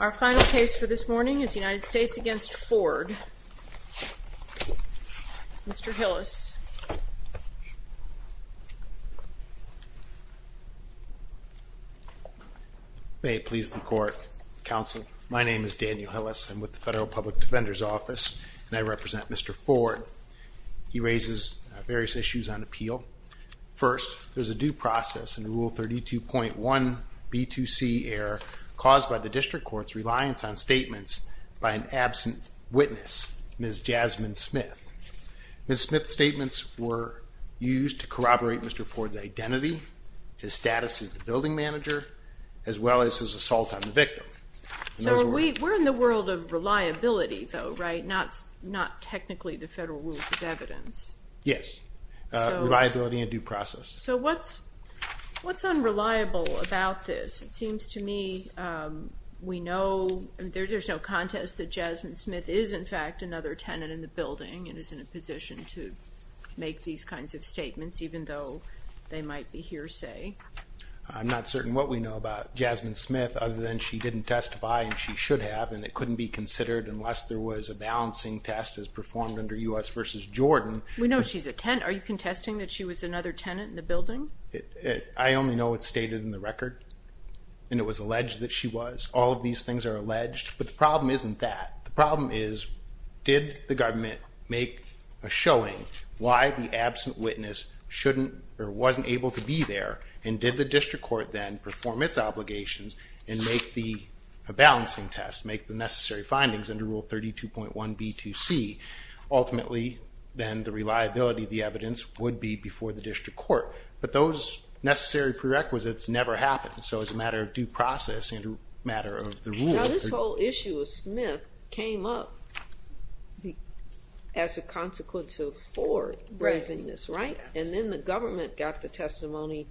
Our final case for this morning is United States v. Ford. Mr. Hillis. May it please the court, counsel. My name is Daniel Hillis. I'm with the Federal Public Defender's Office and I represent Mr. Ford. He raises various issues on appeal. First, there's a due process in Rule 32.1 B2C error caused by the district court's reliance on statements by an absent witness, Ms. Jasmine Smith. Ms. Smith's statements were used to corroborate Mr. Ford's identity, his status as the building manager, as well as his assault on the victim. So we're in the world of reliability, though, right? Not technically the federal rules of evidence. Yes. Reliability and due process. So what's unreliable about this? It seems to me we know, there's no contest that Jasmine Smith is, in fact, another tenant in the building and is in a position to make these kinds of statements, even though they might be hearsay. I'm not certain what we know about Jasmine Smith other than she didn't testify and she should have, and it couldn't be considered unless there was a balancing test as performed under U.S. v. Jordan. We know she's a tenant. Are you contesting that she was another tenant in the building? I only know it's stated in the record and it was alleged that she was. All of these things are alleged. But the problem isn't that. The problem is, did the government make a showing why the absent witness shouldn't or wasn't able to be there? And did the district court then perform its obligations and make the balancing test, make the necessary findings under Rule 32.1B2C? Ultimately, then the reliability of the evidence would be before the district court. But those necessary prerequisites never happened. So as a matter of due process and a matter of the rule. Now this whole issue of Smith came up as a consequence of Ford raising this, right? And then the government got the testimony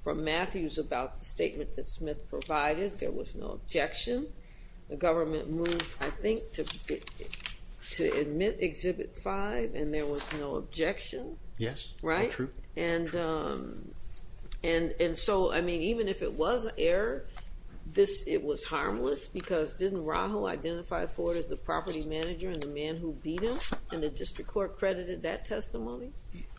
from Matthews about the statement that Smith provided. There was no objection. The government moved, I think, to admit Exhibit 5 and there was no objection. Yes, true. And so, I mean, even if it was an error, it was harmless because didn't Rahul identify Ford as the property manager and the man who beat him? And the district court credited that testimony?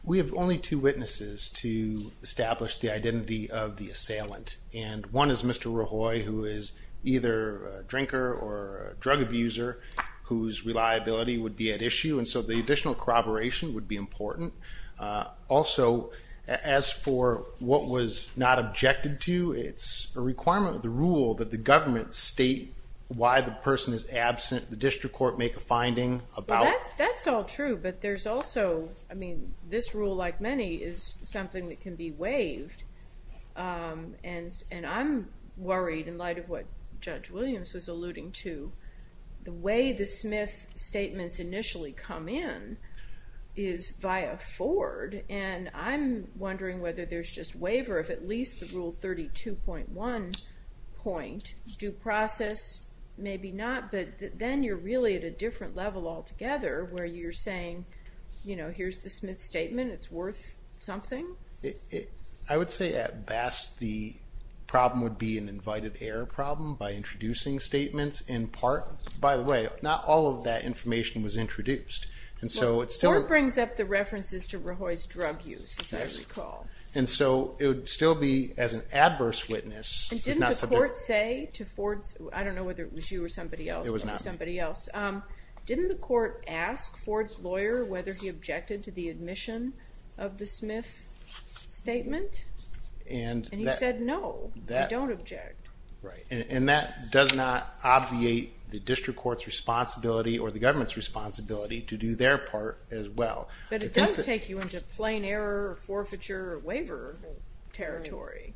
We have only two witnesses to establish the identity of the assailant. And one is Mr. Rahul, who is either a drinker or drug abuser, whose reliability would be at issue. And so the additional corroboration would be important. Also, as for what was not objected to, it's a requirement of the rule that the government state why the person is absent. The district court make a finding about. That's all true, but there's also, I mean, this rule, like many, is something that can be waived. And I'm worried in light of what Judge Williams was alluding to, the way the Smith statements initially come in is via Ford. And I'm wondering whether there's just waiver of at least the rule 32.1 point due process. Maybe not, but then you're really at a different level altogether where you're saying, you know, here's the Smith statement. It's worth something. I would say at best, the problem would be an invited error problem by introducing statements in part. By the way, not all of that information was introduced. And so it still brings up the references to Rahul's drug use, as I recall. And so it would still be as an adverse witness. And didn't the court say to Ford's, I don't know whether it was you or somebody else, but it was somebody else. Didn't the court ask Ford's lawyer whether he objected to the admission of the Smith statement? And he said, no, I don't object. Right, and that does not obviate the district court's responsibility or the government's responsibility to do their part as well. But it does take you into plain error, forfeiture, waiver territory.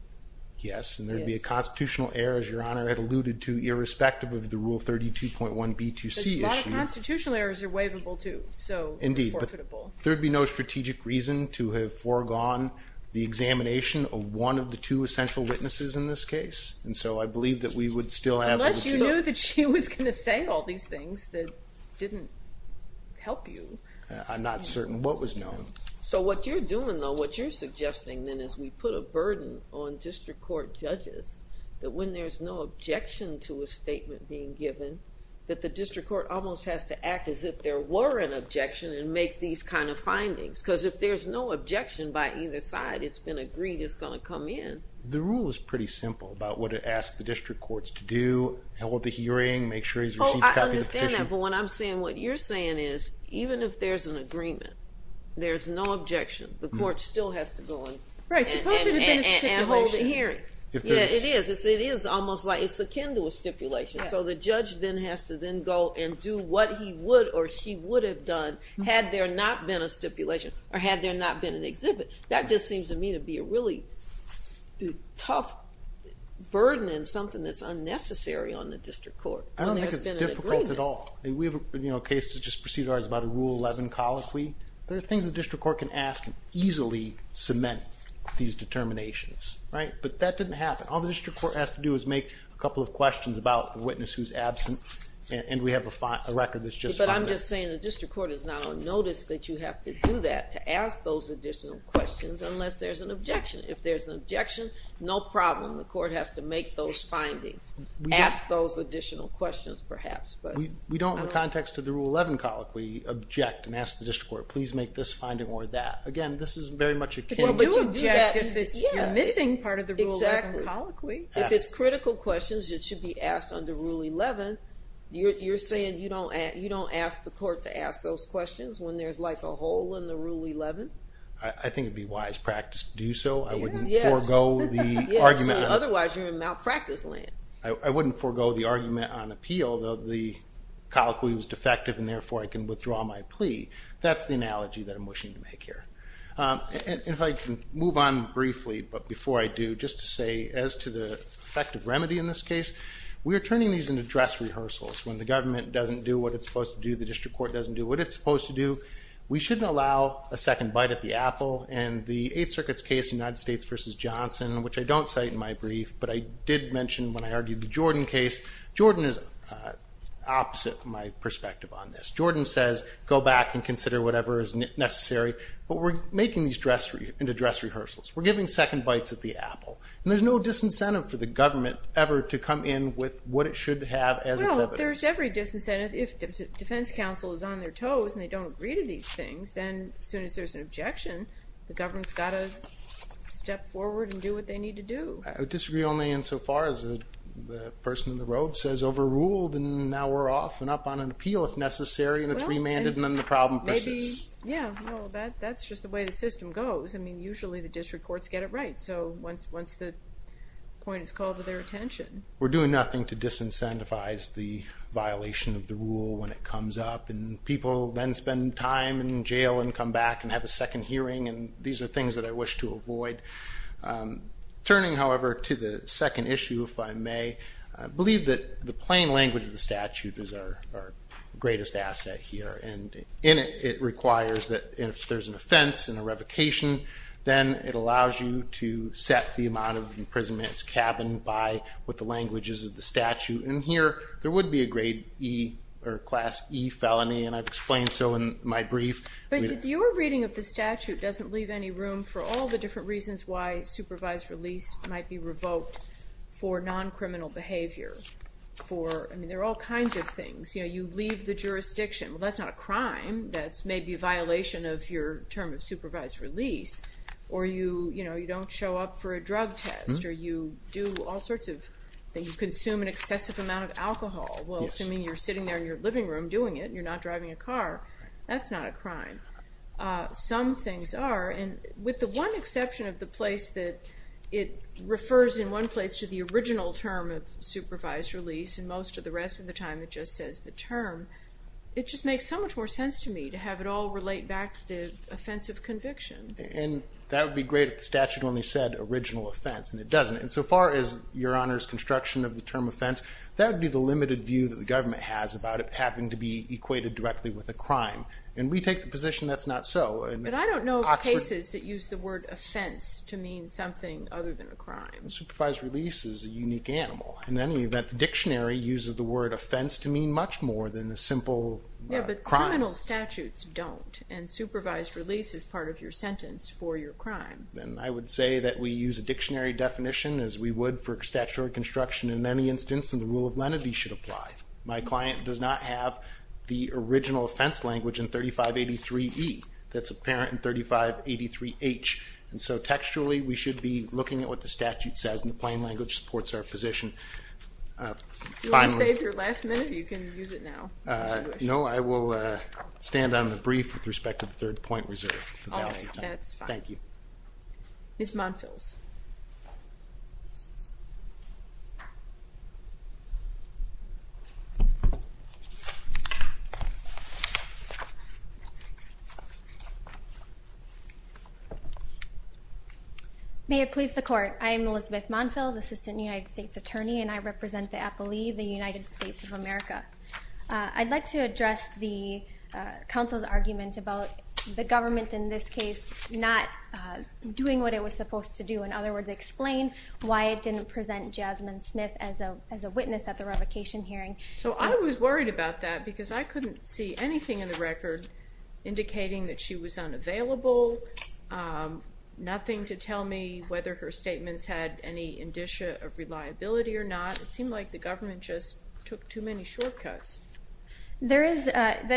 Yes, and there'd be a constitutional error, as Your Honor had alluded to, irrespective of the Rule 32.1b2c issue. A lot of constitutional errors are waivable too, so they're forfeitable. Indeed, but there'd be no strategic reason to have foregone the examination of one of the two essential witnesses in this case. And so I believe that we would still have... Unless you knew that she was going to say all these things that didn't help you. I'm not certain what was known. So what you're doing, though, what you're suggesting, then, is we put a burden on district court judges that when there's no objection to a statement being given, that the district court almost has to act as if there were an objection and make these kind of findings. Because if there's no objection by either side, it's been agreed it's going to come in. The Rule is pretty simple about what it asks the district courts to do, hold the hearing, make sure he's received a copy of the petition. For example, what I'm saying, what you're saying is, even if there's an agreement, there's no objection, the court still has to go in and hold a hearing. Right, suppose there had been a stipulation. Yeah, it is. It is almost like it's akin to a stipulation. So the judge then has to then go and do what he would or she would have done had there not been a stipulation or had there not been an exhibit. That just seems to me to be a really tough burden and something that's unnecessary on the district court. I don't think it's difficult at all. We have a case that just proceeded ours about a Rule 11 colloquy. There are things the district court can ask and easily cement these determinations, right? But that didn't happen. All the district court has to do is make a couple of questions about a witness who's absent and we have a record that's just fine. But I'm just saying the district court is not on notice that you have to do that to ask those additional questions unless there's an objection. If there's an objection, no problem. The court has to make those findings. Ask those additional questions perhaps. We don't, in the context of the Rule 11 colloquy, object and ask the district court, please make this finding or that. Again, this is very much akin to... Well, but you do object if it's missing part of the Rule 11 colloquy. If it's critical questions, it should be asked under Rule 11. You're saying you don't ask the court to ask those questions when there's like a hole in the Rule 11? I think it'd be wise practice to do so. I wouldn't forego the argument. Otherwise, you're in malpractice land. I wouldn't forego the argument on appeal, though the colloquy was defective and therefore I can withdraw my plea. That's the analogy that I'm wishing to make here. And if I can move on briefly, but before I do, just to say as to the effective remedy in this case, we are turning these into dress rehearsals. When the government doesn't do what it's supposed to do, the district court doesn't do what it's supposed to do, we shouldn't allow a second bite at the apple. And the Eighth Circuit's case, United States v. Johnson, which I don't cite in my brief, but I did mention when I argued the Jordan case. Jordan is opposite my perspective on this. Jordan says, go back and consider whatever is necessary, but we're making these into dress rehearsals. We're giving second bites at the apple. And there's no disincentive for the government ever to come in with what it should have as its evidence. There's every disincentive. If defense counsel is on their toes and they don't agree to these things, then as soon as there's an objection, the government's got to step forward and do what they need to do. I would disagree only insofar as the person in the robe says overruled and now we're off and up on an appeal if necessary and it's remanded and then the problem persists. Yeah, that's just the way the system goes. I mean, usually the district courts get it right. So once the point is called to their attention. We're doing nothing to disincentivize the violation of the rule when it comes up. And people then spend time in jail and come back and have a second hearing. And these are things that I wish to avoid. Turning, however, to the second issue, if I may, I believe that the plain language of the statute is our greatest asset here. And in it, it requires that if there's an offense and a revocation, then it allows you to set the amount of imprisonment's cabin by what the language is of the statute. And here, there would be a grade E or class E felony and I've explained so in my brief. But your reading of the statute doesn't leave any room for all the different reasons why supervised release might be revoked for non-criminal behavior. For, I mean, there are all kinds of things. You know, you leave the jurisdiction. Well, that's not a crime. That's maybe a violation of your term of supervised release. Or you, you know, you don't show up for a drug test. Or you do all sorts of things. You consume an excessive amount of alcohol. Well, assuming you're sitting there in your living room doing it and you're not driving a car, that's not a crime. Some things are. And with the one exception of the place that it refers in one place to the original term of supervised release and most of the rest of the time it just says the term. It just makes so much more sense to me to have it all relate back to the offense of conviction. And that would be great if the statute only said original offense and it doesn't. And so far as your Honor's construction of the term offense, that would be the limited view that the government has about it having to be equated directly with a crime. And we take the position that's not so. But I don't know of cases that use the word offense to mean something other than a crime. Supervised release is a unique animal. In any event, the dictionary uses the word offense to mean much more than a simple crime. Yeah, but criminal statutes don't. And supervised release is part of your sentence for your crime. And I would say that we use a dictionary definition as we would for statutory construction in any instance and the rule of lenity should apply. My client does not have the original offense language in 3583E that's apparent in 3583H. And so textually we should be looking at what the statute says and the plain language supports our position. If you want to save your last minute, you can use it now. No, I will stand on the brief with respect to the third point reserve. That's fine. Thank you. Ms. Monfils. May it please the court. I am Elizabeth Monfils, Assistant United States Attorney, and I represent the appellee, the United States of America. I'd like to address the counsel's argument about the government in this case not doing what it was supposed to do. In other words, explain why it didn't present Jasmine Smith as a witness at the revocation hearing. So I was worried about that because I couldn't see anything in the record indicating that she was unavailable. Nothing to tell me whether her statements had any indicia of reliability or not. It seemed like the government just took too many shortcuts. That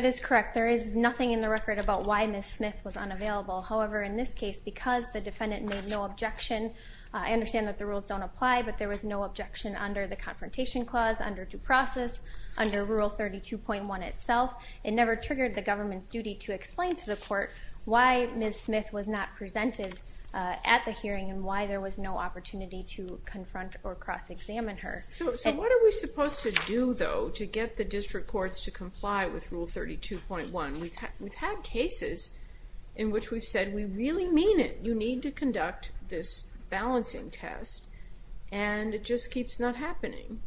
is correct. There is nothing in the record about why Ms. Smith was unavailable. However, in this case, because the defendant made no objection, I understand that the rules don't apply, but there was no objection under the confrontation clause, under due process, under Rule 32.1 itself. It never triggered the government's duty to explain to the court why Ms. Smith was not presented at the hearing and why there was no opportunity to confront or cross-examine her. So what are we supposed to do, though, to get the district courts to comply with Rule 32.1? We've had cases in which we've said, we really mean it. You need to conduct this balancing test, and it just keeps not happening.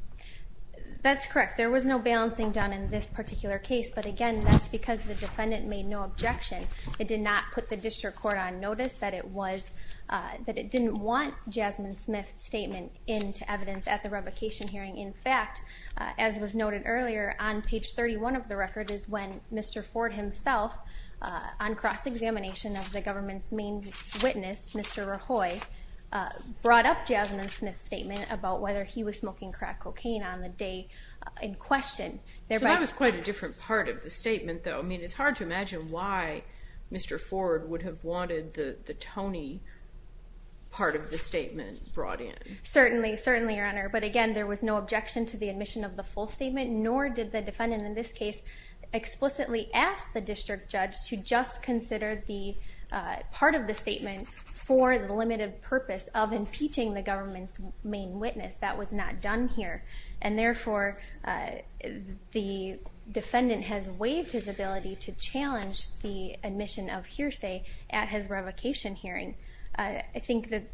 That's correct. There was no balancing done in this particular case, but again, that's because the defendant made no objection. It did not put the district court on notice that it didn't want Jasmine Smith's statement into evidence at the revocation hearing. In fact, as was noted earlier, on page 31 of the record is when Mr. Ford himself, on cross-examination of the government's main witness, Mr. Rahoy, brought up Jasmine Smith's statement about whether he was smoking crack cocaine on the day in question. So that was quite a different part of the statement, though. I mean, it's hard to imagine why Mr. Ford would have wanted the Tony part of the statement brought in. Certainly, certainly, Your Honor. But again, there was no objection to the admission of the full statement, nor did the defendant in this case explicitly ask the district judge to just consider the part of the statement for the limited purpose of impeaching the government's main witness. That was not done here. And therefore, the defendant has waived his ability to challenge the admission of hearsay at his revocation hearing. I think that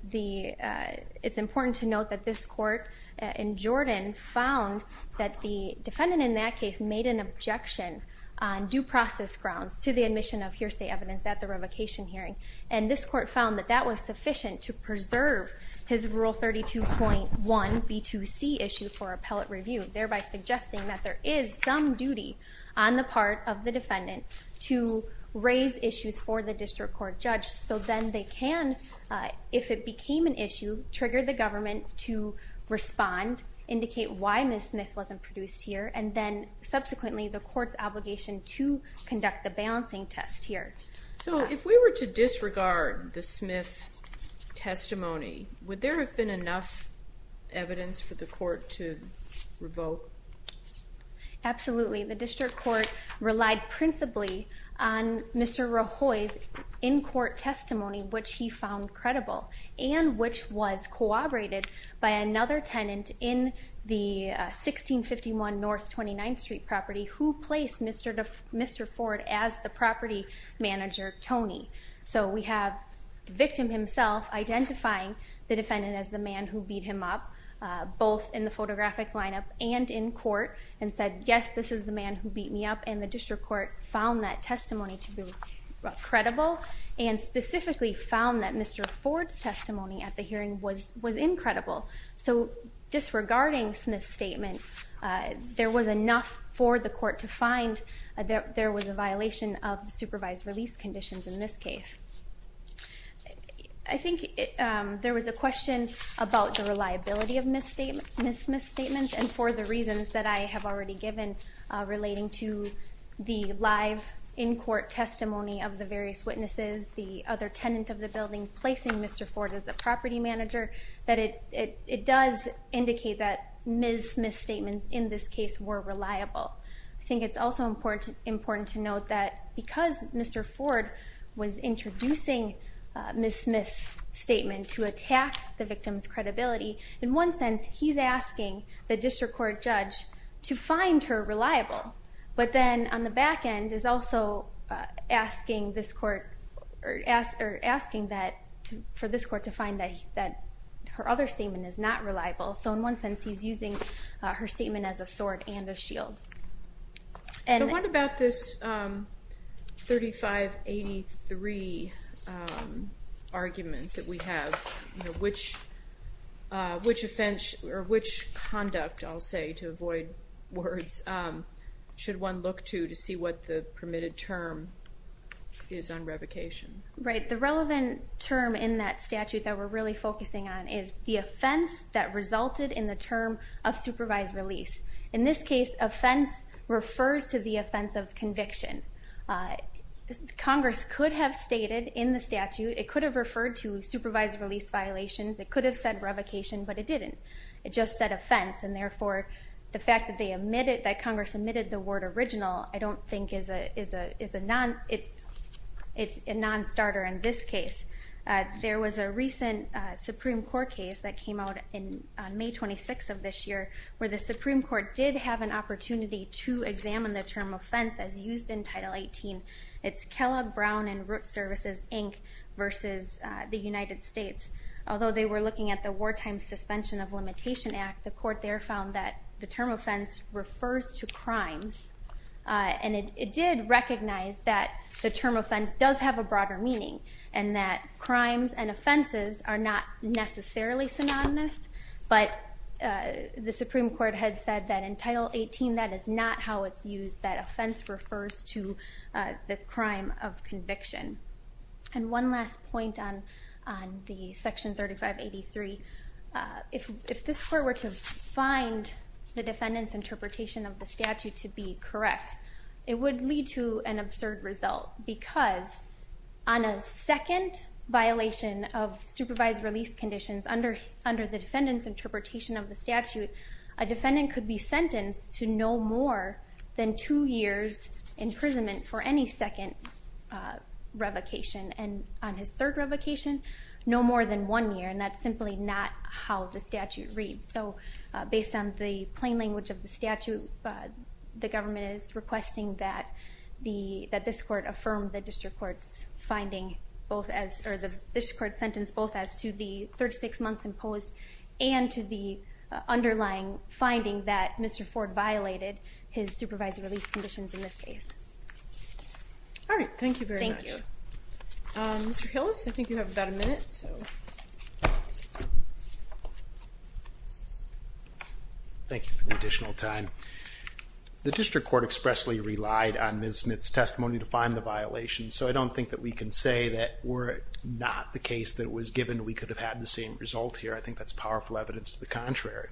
it's important to note that this court in Jordan found that the defendant in that case made an objection on due process grounds to the admission of hearsay evidence at the revocation hearing. And this court found that that was sufficient to preserve his Rule 32.1b2c issue for appellate review, thereby suggesting that there is some duty on the part of the defendant to raise issues for the district court judge so then they can, if it became an issue, trigger the government to respond, indicate why Ms. Smith wasn't produced here, and then subsequently the court's obligation to conduct the balancing test here. So if we were to disregard the Smith testimony, would there have been enough evidence for the court to revoke? Absolutely. The district court relied principally on Mr. Rahoy's in-court testimony, which he found credible and which was corroborated by another tenant in the 1651 North 29th Street property who placed Mr. Ford as the property manager, Tony. So we have the victim himself identifying the defendant as the man who beat him up, both in the photographic lineup and in court, and said, yes, this is the man who beat me up. And the district court found that testimony to be credible and specifically found that Mr. Ford's testimony at the hearing was incredible. So disregarding Smith's statement, there was enough for the court to find that there was a violation of the supervised release conditions in this case. I think there was a question about the reliability of Ms. Smith's statements and for the reasons that I have already given relating to the live in-court testimony of the various witnesses, the other tenant of the building placing Mr. Ford as the property manager, that it does indicate that Ms. Smith's statements in this case were reliable. I think it's also important to note that because Mr. Ford was introducing Ms. Smith's statement to attack the victim's credibility, in one sense he's asking the district court judge to find her reliable, but then on the back end is also asking for this court to find that her other statement is not reliable. So in one sense he's using her statement as a sword and a shield. So what about this 3583 argument that we have? Which conduct, I'll say to avoid words, should one look to to see what the permitted term is on revocation? Right, the relevant term in that statute that we're really focusing on is the offense that resulted in the term of supervised release. In this case, offense refers to the offense of conviction. Congress could have stated in the statute, it could have referred to supervised release violations, it could have said revocation, but it didn't. It just said offense and therefore the fact that Congress omitted the word original I don't think is a non-starter in this case. There was a recent Supreme Court case that came out on May 26th of this year where the Supreme Court did have an opportunity to examine the term offense as used in Title 18. It's Kellogg, Brown, and Root Services, Inc. versus the United States. Although they were looking at the Wartime Suspension of Limitation Act, the court there found that the term offense refers to crimes and it did recognize that the term offense does have a broader meaning and that crimes and offenses are not necessarily synonymous, but the Supreme Court had said that in Title 18 that is not how it's used, that offense refers to the crime of conviction. And one last point on the Section 3583. If this court were to find the defendant's interpretation of the statute to be correct, it would lead to an absurd result because on a second violation of supervised release conditions under the defendant's interpretation of the statute, a defendant could be sentenced to no more than two years' imprisonment for any second revocation. And on his third revocation, no more than one year and that's simply not how the statute reads. So based on the plain language of the statute, the government is requesting that this court affirm the district court's finding or the district court's sentence both as to the 36 months imposed and to the underlying finding that Mr. Ford violated his supervised release conditions in this case. All right. Thank you very much. Thank you. Mr. Hillis, I think you have about a minute. Thank you for the additional time. The district court expressly relied on Ms. Smith's testimony to find the violation, so I don't think that we can say that were it not the case that it was given, we could have had the same result here. I think that's powerful evidence to the contrary.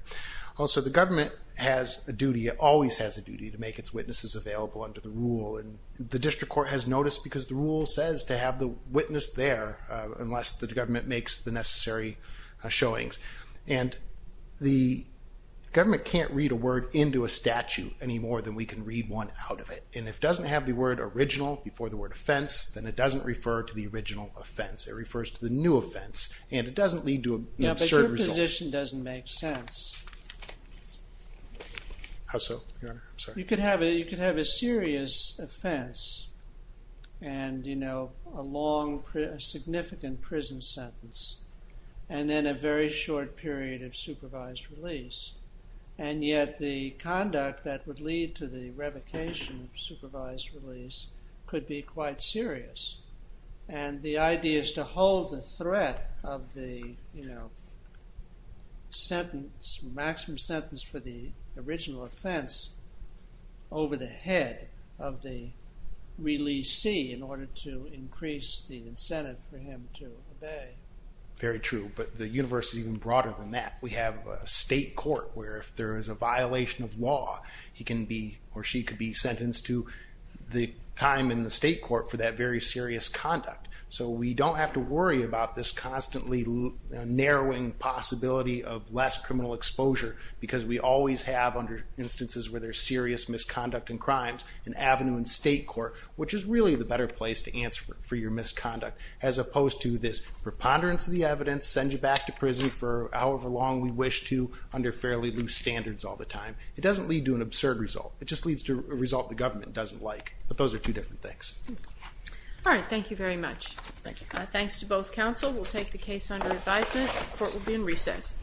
Also, the government has a duty, always has a duty, to make its witnesses available under the rule. And the district court has noticed because the rule says to have the witness there unless the government makes the necessary showings. And the government can't read a word into a statute any more than we can read one out of it. And if it doesn't have the word original before the word offense, then it doesn't refer to the original offense. It refers to the new offense. And it doesn't lead to an absurd result. But your position doesn't make sense. How so, Your Honor? I'm sorry. You could have a serious offense. And, you know, a long, significant prison sentence. And then a very short period of supervised release. And yet the conduct that would lead to the revocation of supervised release could be quite serious. And the idea is to hold the threat of the, you know, sentence, maximum sentence for the original offense over the head of the releasee in order to increase the incentive for him to obey. Very true. But the universe is even broader than that. We have a state court where if there is a violation of law, he can be or she could be sentenced to the time in the state court for that very serious conduct. So we don't have to worry about this constantly narrowing possibility of less criminal exposure. Because we always have, under instances where there's serious misconduct and crimes, an avenue in state court, which is really the better place to answer for your misconduct. As opposed to this preponderance of the evidence, send you back to prison for however long we wish to, under fairly loose standards all the time. It doesn't lead to an absurd result. It just leads to a result the government doesn't like. But those are two different things. All right. Thank you very much. Thanks to both counsel. We'll take the case under advisement. Court will be in recess.